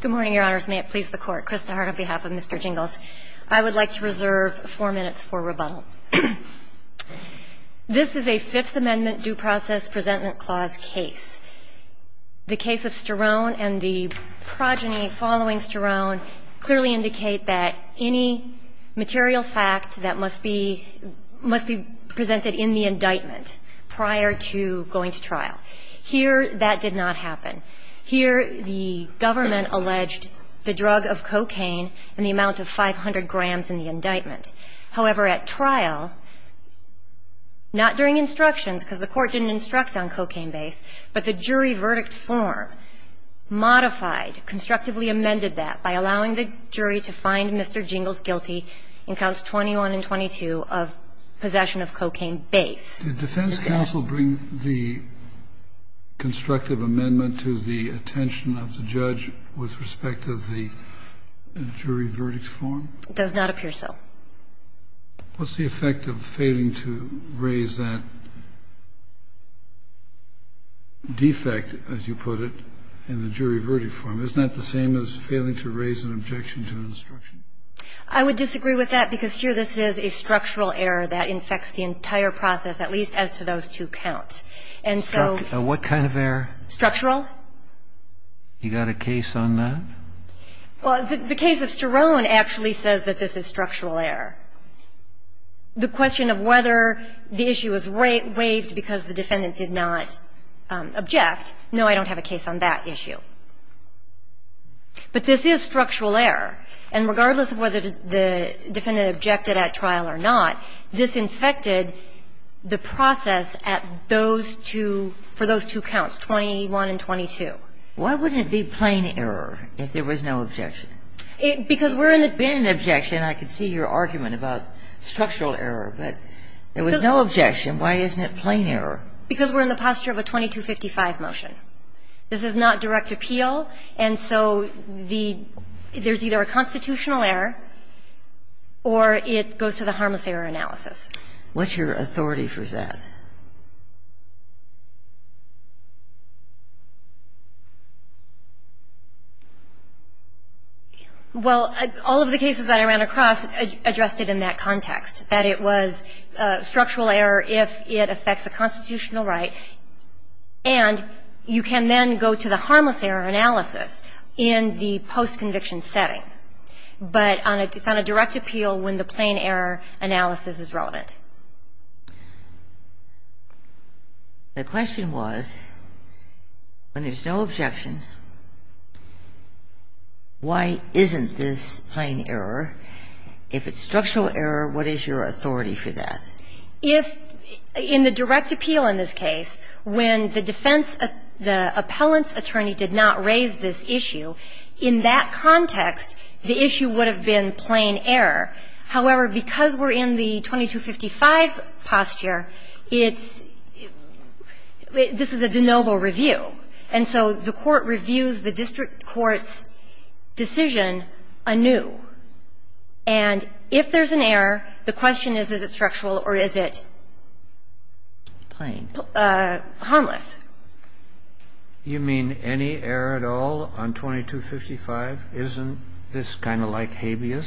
Good morning, Your Honors. May it please the Court. Krista Hart on behalf of Mr. Jingles. I would like to reserve four minutes for rebuttal. This is a Fifth Amendment due process presentment clause case. The case of Sterone and the progeny following Sterone clearly indicate that any material fact that must be must be presented in the indictment prior to going to trial. Here, that did not happen. Here, the government alleged the drug of cocaine and the amount of 500 grams in the indictment. However, at trial, not during instructions, because the Court didn't instruct on cocaine base, but the jury verdict form modified, constructively amended that by allowing the jury to find Mr. Jingles guilty in counts 21 and 22 of possession of cocaine base. Did defense counsel bring the constructive amendment to the attention of the judge with respect to the jury verdict form? It does not appear so. What's the effect of failing to raise that defect, as you put it, in the jury verdict form? Isn't that the same as failing to raise an objection to an instruction? I would disagree with that, because here this is a structural error that infects the entire process, at least as to those two counts. And so what kind of error? Structural. You got a case on that? Well, the case of Sterone actually says that this is structural error. The question of whether the issue was waived because the defendant did not object, no, I don't have a case on that issue. But this is structural error. And regardless of whether the defendant objected at trial or not, this infected the process at those two, for those two counts, 21 and 22. Why wouldn't it be plain error if there was no objection? Because we're in the position of a 2255 motion. This is not direct appeal, and so the – there's either a constitutional error or it goes to the harmless error analysis. What's your authority for that? Well, all of the cases that I ran across addressed it in that context, that it was structural error if it affects a constitutional right. And you can then go to the harmless error analysis in the post-conviction setting. But it's on a direct appeal when the plain error analysis is relevant. The question was, when there's no objection, why isn't this plain error? If it's structural error, what is your authority for that? If, in the direct appeal in this case, when the defense – the appellant's attorney did not raise this issue, in that context, the issue would have been plain error. However, because we're in the 2255 posture, it's – this is a de novo review. And so the court reviews the district court's decision anew. And if there's an error, the question is, is it structural or is it plain? Harmless. You mean any error at all on 2255? Isn't this kind of like habeas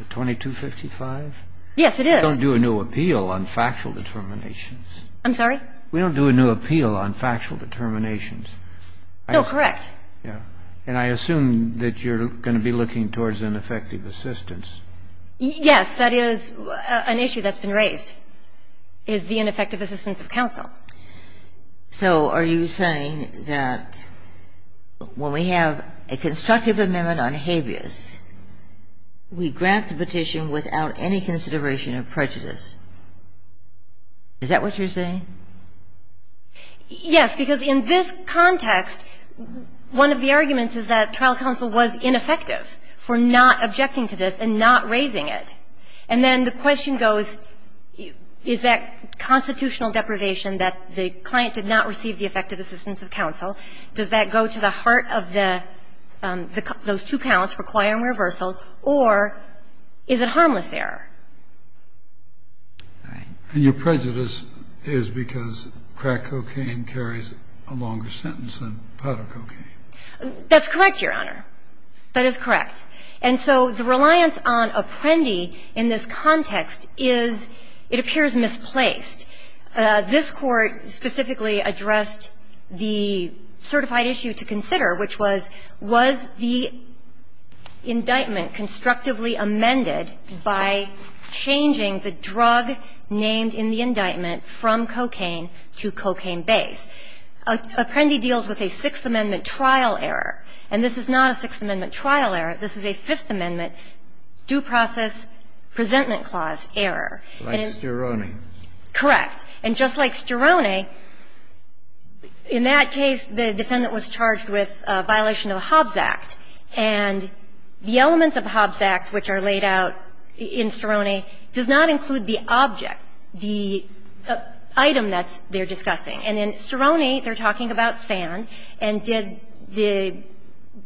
at 2255? Yes, it is. We don't do a new appeal on factual determinations. I'm sorry? We don't do a new appeal on factual determinations. No, correct. And I assume that you're going to be looking towards ineffective assistance. Yes. That is an issue that's been raised, is the ineffective assistance of counsel. So are you saying that when we have a constructive amendment on habeas, we grant the petition without any consideration of prejudice? Is that what you're saying? Yes, because in this context, one of the arguments is that trial counsel was ineffective for not objecting to this and not raising it. And then the question goes, is that constitutional deprivation that the client did not receive the effective assistance of counsel, does that go to the heart of the – those two counts, requiring reversal, or is it harmless error? Your prejudice is because crack cocaine carries a longer sentence than powder cocaine. That's correct, Your Honor. That is correct. And so the reliance on Apprendi in this context is, it appears, misplaced. This Court specifically addressed the certified issue to consider, which was, was the drug named in the indictment from cocaine to cocaine base. Apprendi deals with a Sixth Amendment trial error. And this is not a Sixth Amendment trial error. This is a Fifth Amendment due process presentment clause error. Like Stirone. Correct. And just like Stirone, in that case, the defendant was charged with a violation of the Hobbs Act. And the elements of the Hobbs Act, which are laid out in Stirone, does not include the object, the item that's they're discussing. And in Stirone, they're talking about sand, and did the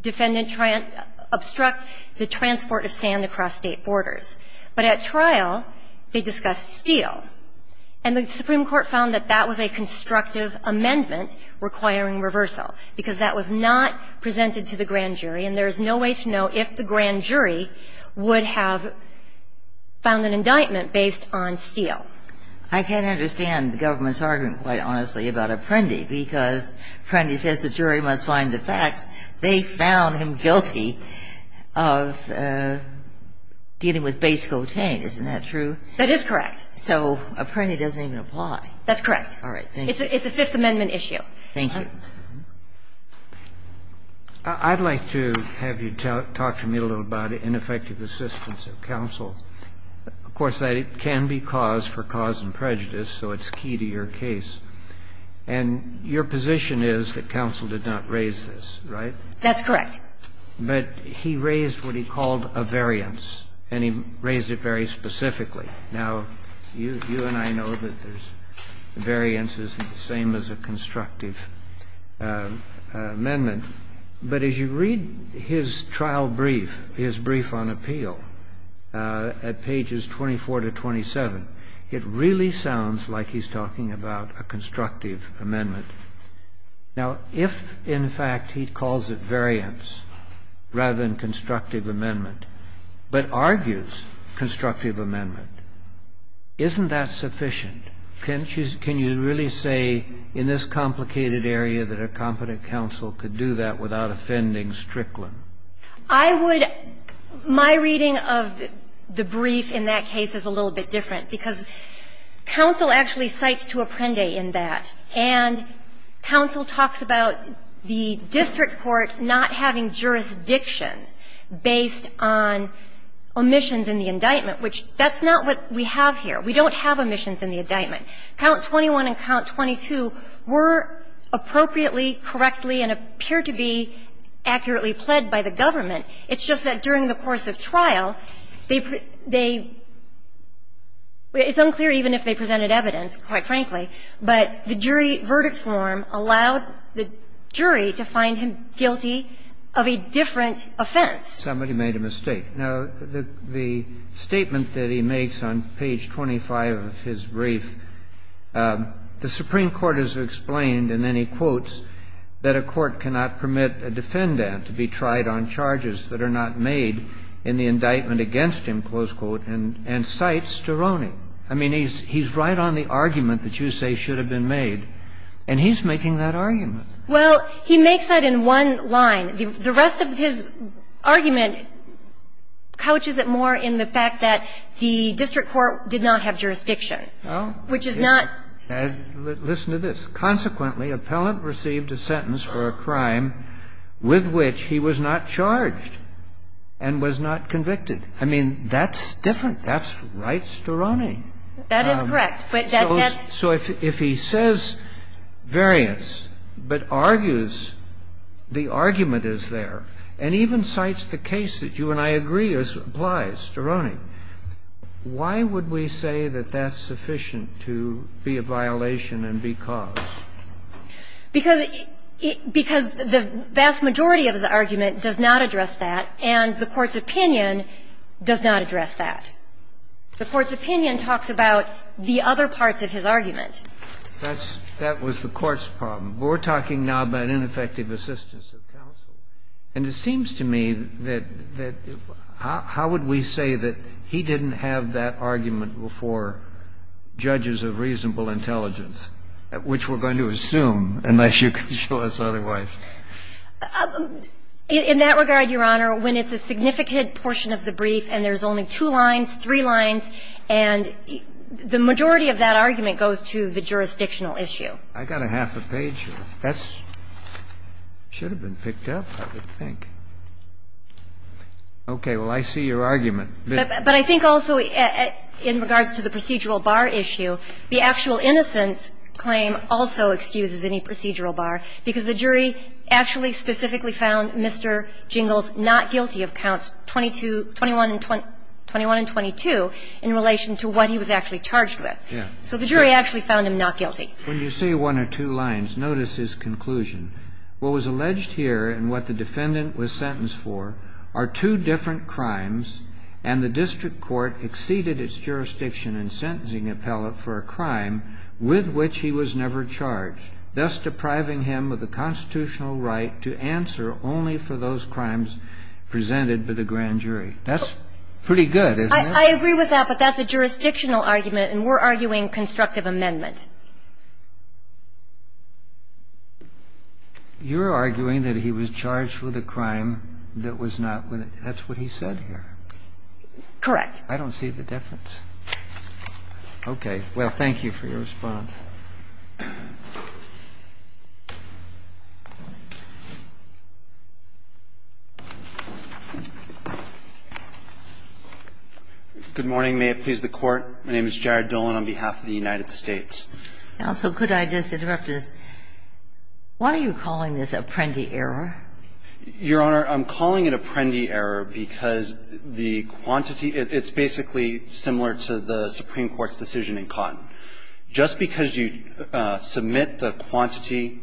defendant try and obstruct the transport of sand across State borders. But at trial, they discussed steel. And the Supreme Court found that that was a constructive amendment requiring reversal, because that was not presented to the grand jury, and there is no way to know if the grand jury would have found an indictment based on steel. I can understand the government's argument, quite honestly, about Apprendi, because Apprendi says the jury must find the facts. They found him guilty of dealing with base cocaine. Isn't that true? That is correct. So Apprendi doesn't even apply. That's correct. All right. Thank you. It's a Fifth Amendment issue. Thank you. I'd like to have you talk to me a little about ineffective assistance of counsel. Of course, that can be cause for cause and prejudice, so it's key to your case. And your position is that counsel did not raise this, right? That's correct. But he raised what he called a variance, and he raised it very specifically. Now, you and I know that there's – variance isn't the same as a constructive amendment, but as you read his trial brief, his brief on appeal, at pages 24 to 27, it really sounds like he's talking about a constructive amendment. Now, if, in fact, he calls it variance rather than constructive amendment, but argues constructive amendment, isn't that sufficient? Can you really say in this complicated area that a competent counsel could do that without offending Strickland? I would – my reading of the brief in that case is a little bit different, because counsel actually cites to Apprendi in that, and counsel talks about the district court not having jurisdiction based on omissions in the indictment, which that's not what we have here. We don't have omissions in the indictment. Count 21 and Count 22 were appropriately, correctly, and appeared to be accurately pled by the government. It's just that during the course of trial, they – it's unclear even if they presented evidence, quite frankly, but the jury verdict form allowed the jury to find him – to find him guilty of a different offense. Kennedy, somebody made a mistake. Now, the statement that he makes on page 25 of his brief, the Supreme Court has explained, and then he quotes, that a court cannot permit a defendant to be tried on charges that are not made in the indictment against him, close quote, and cites Sterroni. I mean, he's right on the argument that you say should have been made, and he's making that argument. Well, he makes that in one line. The rest of his argument couches it more in the fact that the district court did not have jurisdiction, which is not – Well, listen to this. Consequently, appellant received a sentence for a crime with which he was not charged and was not convicted. I mean, that's different. That's right Sterroni. That is correct. So if he says variance, but argues the argument is there, and even cites the case that you and I agree applies, Sterroni, why would we say that that's sufficient to be a violation and be caused? Because the vast majority of the argument does not address that, and the Court's opinion does not address that. The Court's opinion talks about the other parts of his argument. That's – that was the Court's problem. We're talking now about ineffective assistance of counsel, and it seems to me that how would we say that he didn't have that argument before judges of reasonable intelligence, which we're going to assume, unless you can show us otherwise? In that regard, Your Honor, when it's a significant portion of the brief and there's only two lines, three lines, and the majority of that argument goes to the jurisdictional issue. I got a half a page here. That's – should have been picked up, I would think. Okay. Well, I see your argument. But I think also in regards to the procedural bar issue, the actual innocence claim also excuses any procedural bar, because the jury actually specifically found Mr. Jingles not guilty of counts 21 and 22 in relation to what he was actually charged with. So the jury actually found him not guilty. When you say one or two lines, notice his conclusion. What was alleged here and what the defendant was sentenced for are two different crimes, and the district court exceeded its jurisdiction in sentencing appellate for a crime with which he was never charged, thus depriving him of the constitutional right to answer only for those crimes presented by the grand jury. That's pretty good, isn't it? I agree with that, but that's a jurisdictional argument, and we're arguing constructive amendment. You're arguing that he was charged with a crime that was not with – that's what he said here. Correct. I don't see the difference. Okay. Well, thank you for your response. Good morning. May it please the Court. My name is Jared Dolan on behalf of the United States. Counsel, could I just interrupt this? Why are you calling this Apprendi error? Your Honor, I'm calling it Apprendi error because the quantity – it's basically similar to the Supreme Court's decision in Cotton. Just because you submit the quantity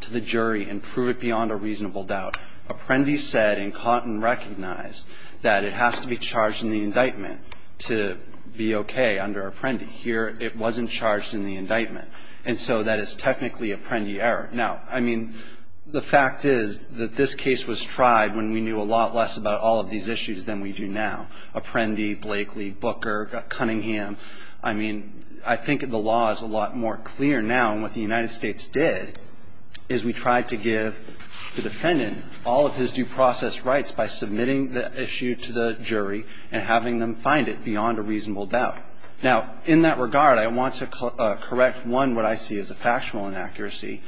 to the jury and prove it beyond a reasonable doubt, Apprendi said in Cotton recognized that it has to be charged in the indictment to be okay under Apprendi. Here, it wasn't charged in the indictment. And so that is technically Apprendi error. Now, I mean, the fact is that this case was tried when we knew a lot less about all of these issues than we do now. Apprendi, Blakely, Booker, Cunningham. I mean, I think the law is a lot more clear now. And what the United States did is we tried to give the defendant all of his due process rights by submitting the issue to the jury and having them find it beyond a reasonable doubt. Now, in that regard, I want to correct, one, what I see as a factual inaccuracy.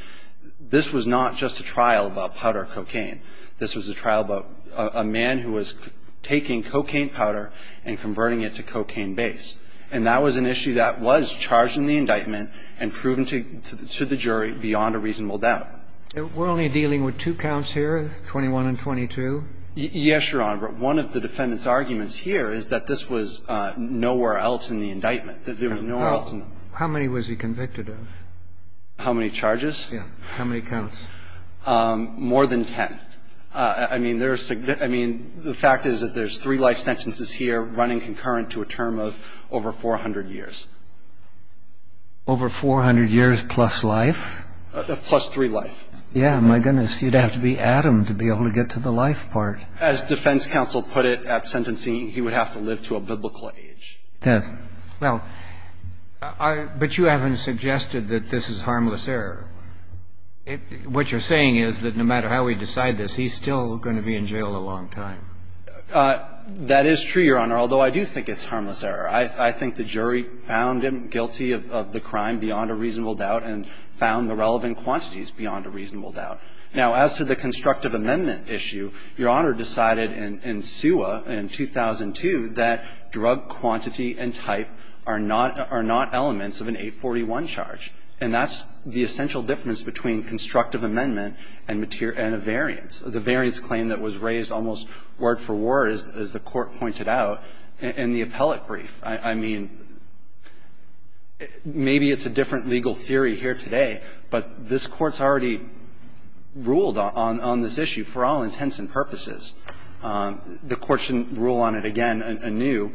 This was not just a trial about powder cocaine. This was a trial about a man who was taking cocaine powder and converting it to cocaine based. And that was an issue that was charged in the indictment and proven to the jury beyond a reasonable doubt. We're only dealing with two counts here, 21 and 22? Yes, Your Honor. But one of the defendant's arguments here is that this was nowhere else in the indictment, that there was nowhere else in the indictment. How many was he convicted of? How many charges? Yes. How many counts? More than ten. I mean, there's the fact is that there's three life sentences here running concurrent to a term of over 400 years. Over 400 years plus life? Plus three life. Yeah, my goodness, you'd have to be Adam to be able to get to the life part. As defense counsel put it at sentencing, he would have to live to a biblical age. Yes. Well, but you haven't suggested that this is harmless error. What you're saying is that no matter how we decide this, he's still going to be in jail a long time. That is true, Your Honor, although I do think it's harmless error. I think the jury found him guilty of the crime beyond a reasonable doubt and found the relevant quantities beyond a reasonable doubt. Now, as to the constructive amendment issue, Your Honor decided in SUA in 2002 that drug quantity and type are not elements of an 841 charge, and that's the essential difference between constructive amendment and a variance. The variance claim that was raised almost word for word, as the Court pointed out, in the appellate brief, I mean, maybe it's a different legal theory here today, but this Court's already ruled on this issue for all intents and purposes. The Court shouldn't rule on it again anew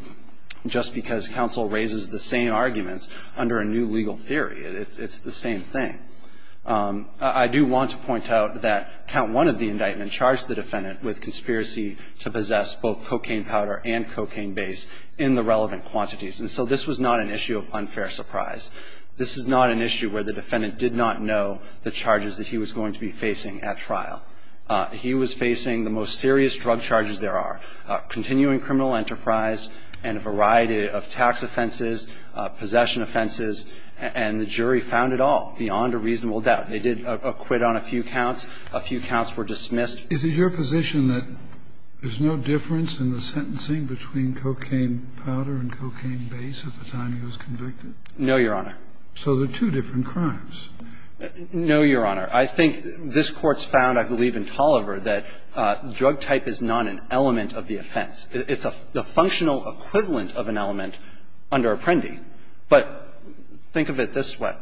just because counsel raises the same arguments under a new legal theory. It's the same thing. I do want to point out that count one of the indictment charged the defendant with conspiracy to possess both cocaine powder and cocaine base in the relevant quantities, and so this was not an issue of unfair surprise. This is not an issue where the defendant did not know the charges that he was going to be facing at trial. He was facing the most serious drug charges there are, continuing criminal enterprise and a variety of tax offenses, possession offenses, and the jury found it all beyond a reasonable doubt. They did acquit on a few counts. A few counts were dismissed. Is it your position that there's no difference in the sentencing between cocaine powder and cocaine base at the time he was convicted? No, Your Honor. So they're two different crimes. No, Your Honor. I think this Court's found, I believe, in Tolliver, that drug type is not an element of the offense. It's a functional equivalent of an element under Apprendi, but think of it this way.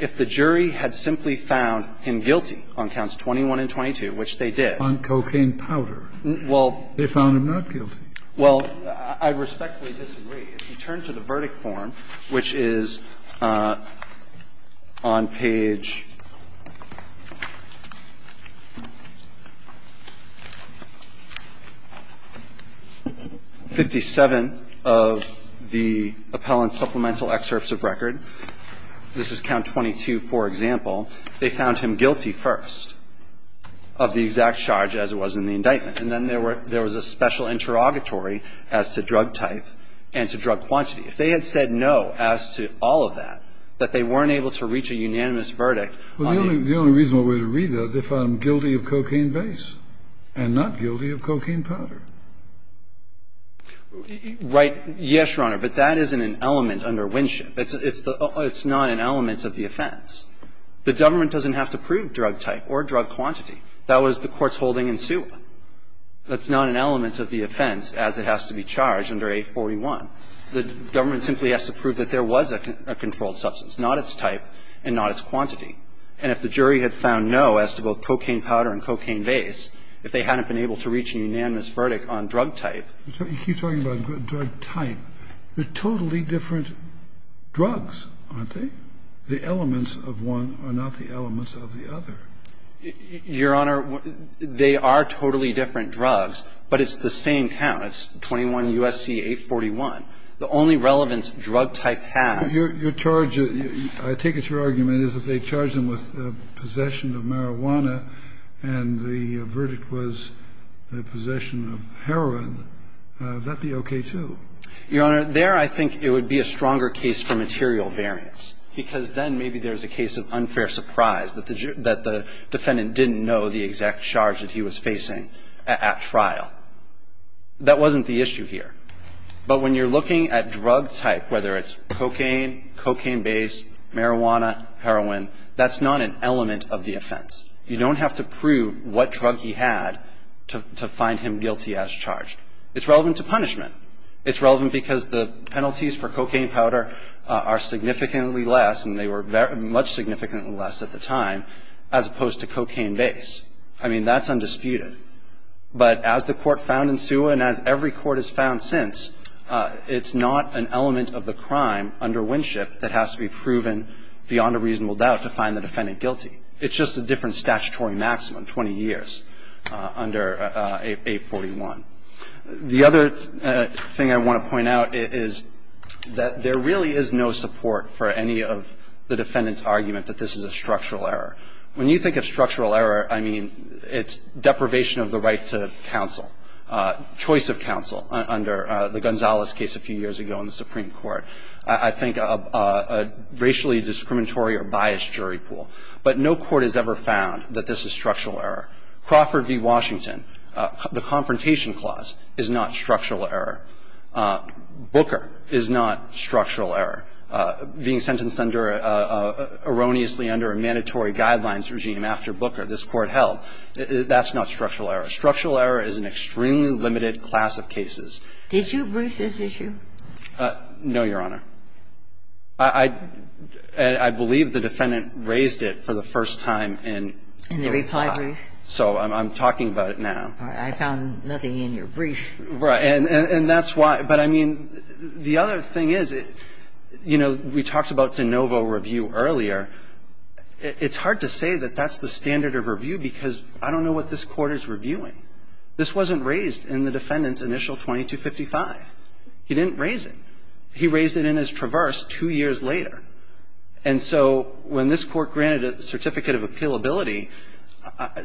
If the jury had simply found him guilty on counts 21 and 22, which they did. On cocaine powder. Well. They found him not guilty. Well, I respectfully disagree. If you turn to the verdict form, which is on page 57 of the appellant's supplemental excerpts of record, this is count 22, for example, they found him guilty first of the exact charge as it was in the indictment, and then there was a special interrogatory as to drug type and to drug quantity. If they had said no as to all of that, that they weren't able to reach a unanimous verdict on the. Well, the only reasonable way to read that is if I'm guilty of cocaine base and not guilty of cocaine powder. Right. Yes, Your Honor, but that isn't an element under Winship. It's not an element of the offense. The government doesn't have to prove drug type or drug quantity. That was the Court's holding in Sewa. That's not an element of the offense as it has to be charged under 841. The government simply has to prove that there was a controlled substance, not its type and not its quantity. And if the jury had found no as to both cocaine powder and cocaine base, if they had found no as to both cocaine powder and cocaine base, that would have been a different verdict on drug type. You keep talking about drug type. They're totally different drugs, aren't they? The elements of one are not the elements of the other. Your Honor, they are totally different drugs, but it's the same count. It's 21 U.S.C. 841. The only relevance drug type has. Kennedy, your charge, I take it your argument, is if they charged him with possession of marijuana and the verdict was the possession of heroin, would that be okay, too? Your Honor, there I think it would be a stronger case for material variance, because then maybe there's a case of unfair surprise that the defendant didn't know the exact charge that he was facing at trial. That wasn't the issue here. But when you're looking at drug type, whether it's cocaine, cocaine base, marijuana, heroin, that's not an element of the offense. You don't have to prove what drug he had to find him guilty as charged. It's relevant to punishment. It's relevant because the penalties for cocaine powder are significantly less, and they were much significantly less at the time, as opposed to cocaine base. I mean, that's undisputed. But as the court found in SUA and as every court has found since, it's not an element of the crime under Winship that has to be proven beyond a reasonable doubt to find the defendant guilty. It's just a different statutory maximum, 20 years under 841. The other thing I want to point out is that there really is no support for any of the defendant's argument that this is a structural error. When you think of structural error, I mean, it's deprivation of the right to counsel, choice of counsel under the Gonzalez case a few years ago in the Supreme Court. I think of a racially discriminatory or biased jury pool. But no court has ever found that this is structural error. Crawford v. Washington, the confrontation clause is not structural error. Booker is not structural error. Being sentenced under, erroneously under a mandatory guidelines regime after Booker, this Court held, that's not structural error. Structural error is an extremely limited class of cases. Ginsburg. Did you brief this issue? No, Your Honor. I believe the defendant raised it for the first time in the reply brief. So I'm talking about it now. I found nothing in your brief. Right. And that's why – but, I mean, the other thing is, you know, we talked about de novo review earlier. It's hard to say that that's the standard of review because I don't know what this Court is reviewing. This wasn't raised in the defendant's initial 2255. He didn't raise it. He raised it in his traverse two years later. And so when this Court granted a certificate of appealability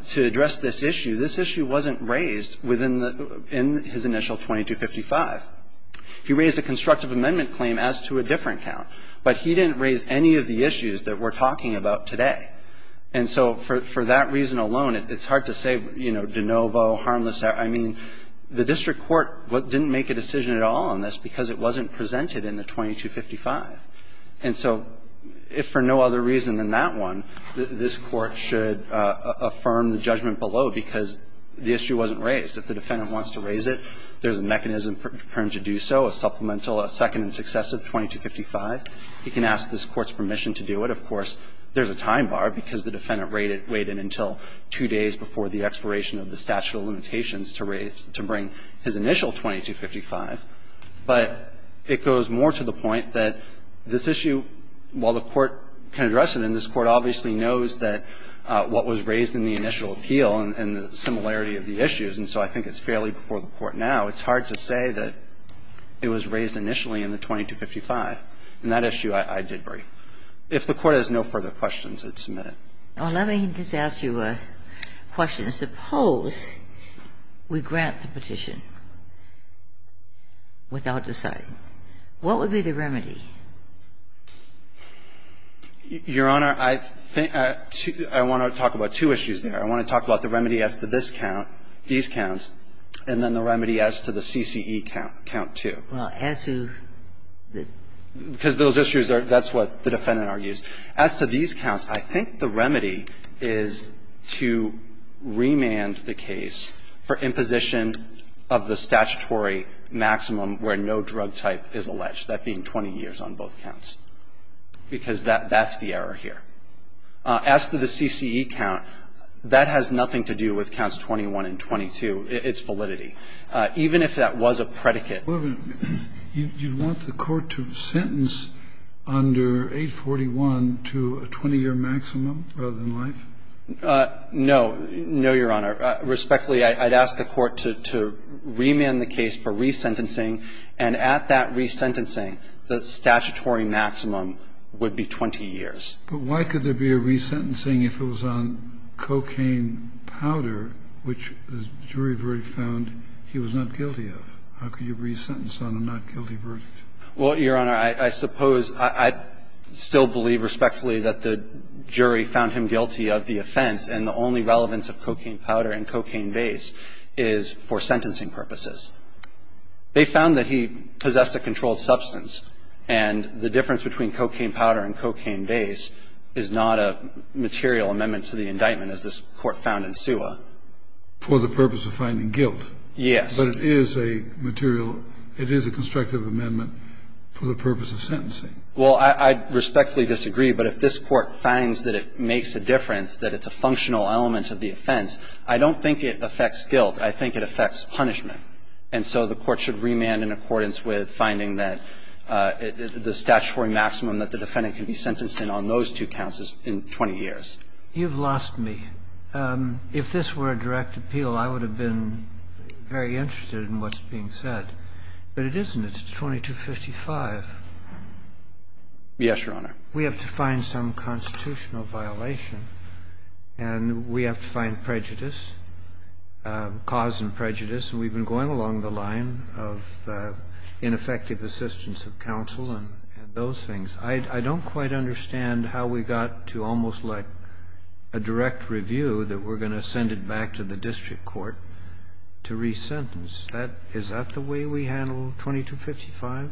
to address this issue, this issue wasn't raised within the – in his initial 2255. He raised a constructive amendment claim as to a different count. But he didn't raise any of the issues that we're talking about today. And so for that reason alone, it's hard to say, you know, de novo, harmless error. I mean, the district court didn't make a decision at all on this because it wasn't presented in the 2255. And so if for no other reason than that one, this Court should affirm the judgment below, because the issue wasn't raised. If the defendant wants to raise it, there's a mechanism for him to do so, a supplemental, a second and successive 2255. He can ask this Court's permission to do it. Of course, there's a time bar because the defendant waited until two days before the expiration of the statute of limitations to raise – to bring his initial 2255. But it goes more to the point that this issue, while the Court can address it and this the similarity of the issues, and so I think it's fairly before the Court now, it's hard to say that it was raised initially in the 2255. And that issue I did bring. If the Court has no further questions, I'd submit it. Ginsburg, let me just ask you a question. Suppose we grant the petition without deciding, what would be the remedy? Your Honor, I think – I want to talk about two issues there. I want to talk about the remedy as to this count, these counts, and then the remedy as to the CCE count, count 2. Well, as to the – Because those issues are – that's what the defendant argues. As to these counts, I think the remedy is to remand the case for imposition of the statutory maximum where no drug type is alleged, that being 20 years on both counts, because that's the error here. As to the CCE count, that has nothing to do with counts 21 and 22, its validity. Even if that was a predicate. Well, then, you want the Court to sentence under 841 to a 20-year maximum rather than life? No. No, Your Honor. Respectfully, I'd ask the Court to remand the case for resentencing, and at that resentencing, the statutory maximum would be 20 years. But why could there be a resentencing if it was on cocaine powder, which the jury verdict found he was not guilty of? How could you resentence on a not guilty verdict? Well, Your Honor, I suppose I'd still believe respectfully that the jury found him guilty of the offense, and the only relevance of cocaine powder and cocaine base is for sentencing purposes. They found that he possessed a controlled substance, and the difference between for the use of cocaine powder and cocaine base is not a material amendment to the indictment, as this Court found in Suwa. For the purpose of finding guilt? Yes. But it is a material – it is a constructive amendment for the purpose of sentencing? Well, I respectfully disagree, but if this Court finds that it makes a difference, that it's a functional element of the offense, I don't think it affects guilt. I think it affects punishment. And so the Court should remand in accordance with finding that the statutory maximum that the defendant can be sentenced in on those two counts is 20 years. You've lost me. If this were a direct appeal, I would have been very interested in what's being said. But it isn't. It's 2255. Yes, Your Honor. We have to find some constitutional violation, and we have to find prejudice, cause and prejudice. And we've been going along the line of ineffective assistance of counsel and those things. I don't quite understand how we got to almost like a direct review that we're going to send it back to the district court to resentence. That – is that the way we handle 2255s?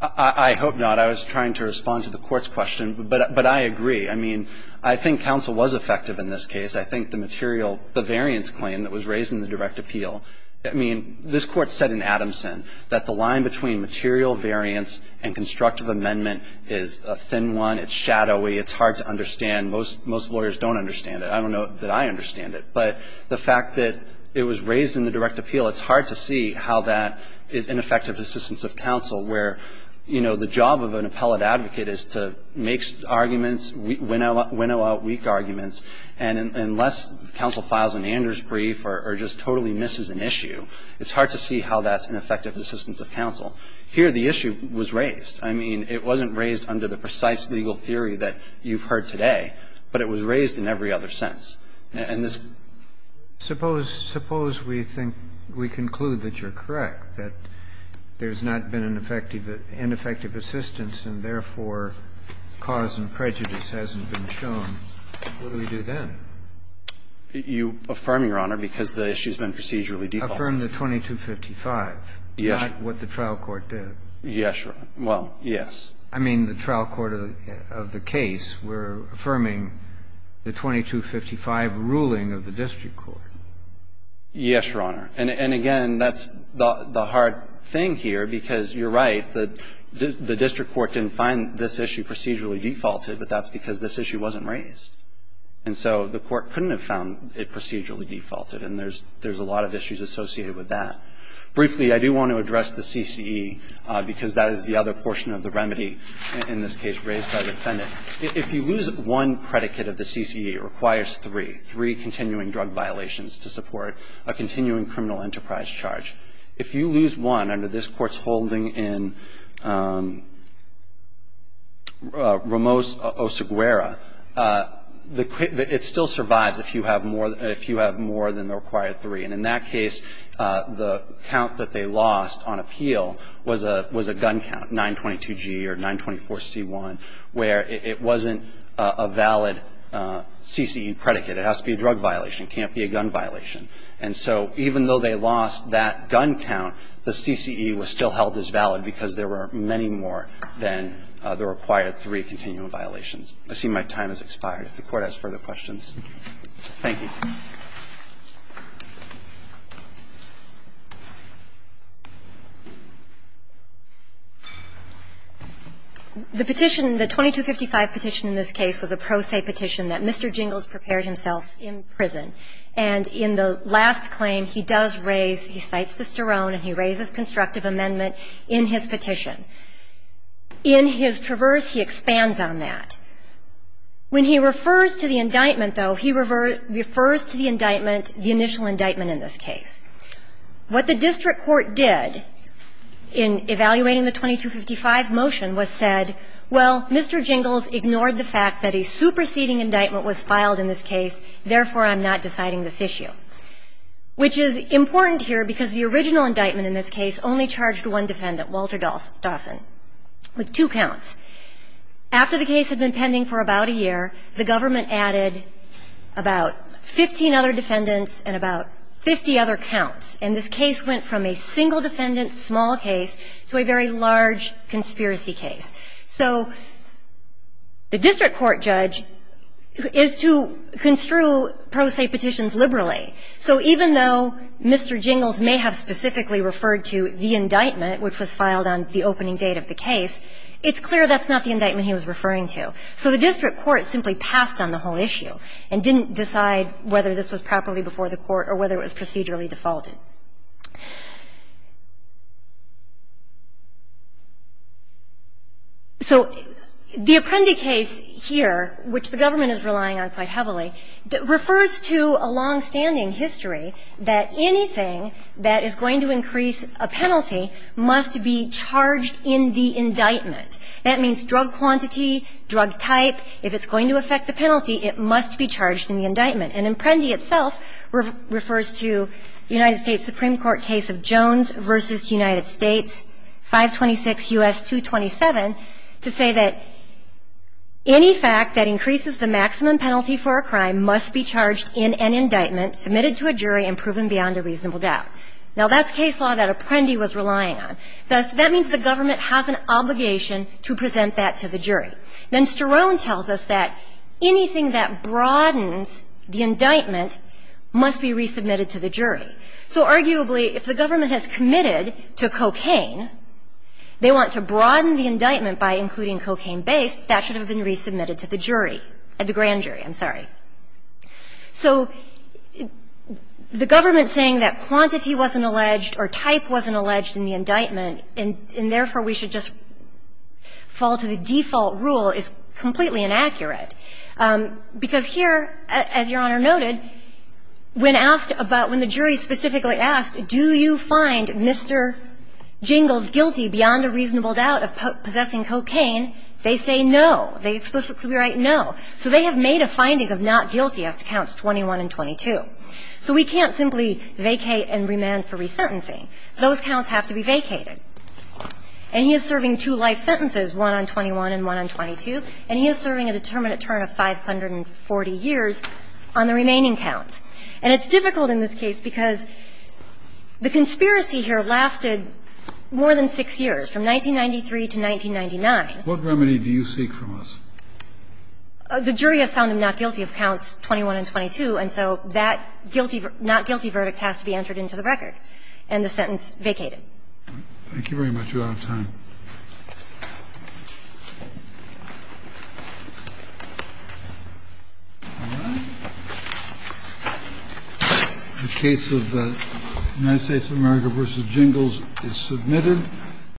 I hope not. I was trying to respond to the Court's question, but I agree. I mean, I think counsel was effective in this case. I think the material – the variance claim that was raised in the direct appeal. I mean, this Court said in Adamson that the line between material variance and constructive amendment is a thin one. It's shadowy. It's hard to understand. Most lawyers don't understand it. I don't know that I understand it. But the fact that it was raised in the direct appeal, it's hard to see how that is ineffective assistance of counsel, where, you know, the job of an appellate advocate is to make arguments, winnow out weak arguments, and unless counsel files an Anders brief or just totally misses an issue, it's hard to see how that's ineffective assistance of counsel. Here, the issue was raised. I mean, it wasn't raised under the precise legal theory that you've heard today, but it was raised in every other sense. And this – Suppose we think – we conclude that you're correct, that there's not been an effective – ineffective assistance, and therefore, cause and prejudice hasn't been shown. What do we do then? You affirm, Your Honor, because the issue's been procedurally defaulted. Affirm the 2255, not what the trial court did. Yes, Your Honor. Well, yes. I mean, the trial court of the case were affirming the 2255 ruling of the district court. Yes, Your Honor. And again, that's the hard thing here, because you're right, the district court didn't find this issue procedurally defaulted, but that's because this issue wasn't raised. And so the court couldn't have found it procedurally defaulted, and there's a lot of issues associated with that. Briefly, I do want to address the CCE, because that is the other portion of the remedy in this case raised by the defendant. If you lose one predicate of the CCE, it requires three, three continuing drug violations to support a continuing criminal enterprise charge. If you lose one under this Court's holding in Ramos-Oseguera, the – it still survives if you have more – if you have more than the required three. And in that case, the count that they lost on appeal was a gun count, 922G or 924C1, where it wasn't a valid CCE predicate. It has to be a drug violation. It can't be a gun violation. And so even though they lost that gun count, the CCE was still held as valid because there were many more than the required three continuing violations. I see my time has expired. If the Court has further questions. Thank you. The petition, the 2255 petition in this case, was a pro se petition that Mr. Jingles prepared himself in prison. And in the last claim, he does raise – he cites de Sterone and he raises constructive amendment in his petition. In his traverse, he expands on that. When he refers to the indictment, though, he refers to the indictment as being the initial indictment in this case. What the district court did in evaluating the 2255 motion was said, well, Mr. Jingles ignored the fact that a superseding indictment was filed in this case, therefore I'm not deciding this issue. Which is important here because the original indictment in this case only charged one defendant, Walter Dawson, with two counts. After the case had been pending for about a year, the government added about 15 other defendants and about 50 other counts. And this case went from a single defendant, small case, to a very large conspiracy case. So the district court judge is to construe pro se petitions liberally. So even though Mr. Jingles may have specifically referred to the indictment, which was filed on the opening date of the case, it's clear that's not the indictment he was referring to. So the district court simply passed on the whole issue and didn't decide whether this was properly before the court or whether it was procedurally defaulted. So the Apprendi case here, which the government is relying on quite heavily, refers to a longstanding history that anything that is going to increase a penalty must be charged in the indictment. That means drug quantity, drug type. If it's going to affect a penalty, it must be charged in the indictment. And Apprendi itself refers to the United States Supreme Court case of Jones v. United States, 526 U.S. 227, to say that any fact that increases the maximum penalty for a crime must be charged in an indictment, submitted to a jury, and proven beyond a reasonable doubt. Now, that's case law that Apprendi was relying on. Thus, that means the government has an obligation to present that to the jury. Then Sterone tells us that anything that broadens the indictment must be resubmitted to the jury. So arguably, if the government has committed to cocaine, they want to broaden the indictment by including cocaine-based, that should have been resubmitted to the jury, the grand jury. I'm sorry. So the government saying that quantity wasn't alleged or type wasn't alleged in the indictment and therefore we should just fall to the default rule is completely inaccurate. Because here, as Your Honor noted, when asked about, when the jury specifically asked, do you find Mr. Jingles guilty beyond a reasonable doubt of possessing cocaine, they say no. They explicitly write no. So they have made a finding of not guilty as to counts 21 and 22. So we can't simply vacate and remand for resentencing. Those counts have to be vacated. And he is serving two life sentences, one on 21 and one on 22. And he is serving a determinate term of 540 years on the remaining counts. And it's difficult in this case because the conspiracy here lasted more than six years, from 1993 to 1999. What remedy do you seek from us? The jury has found him not guilty of counts 21 and 22. And so that not guilty verdict has to be entered into the record. And the sentence vacated. Thank you very much. We're out of time. All right. The case of the United States of America v. Jingles is submitted.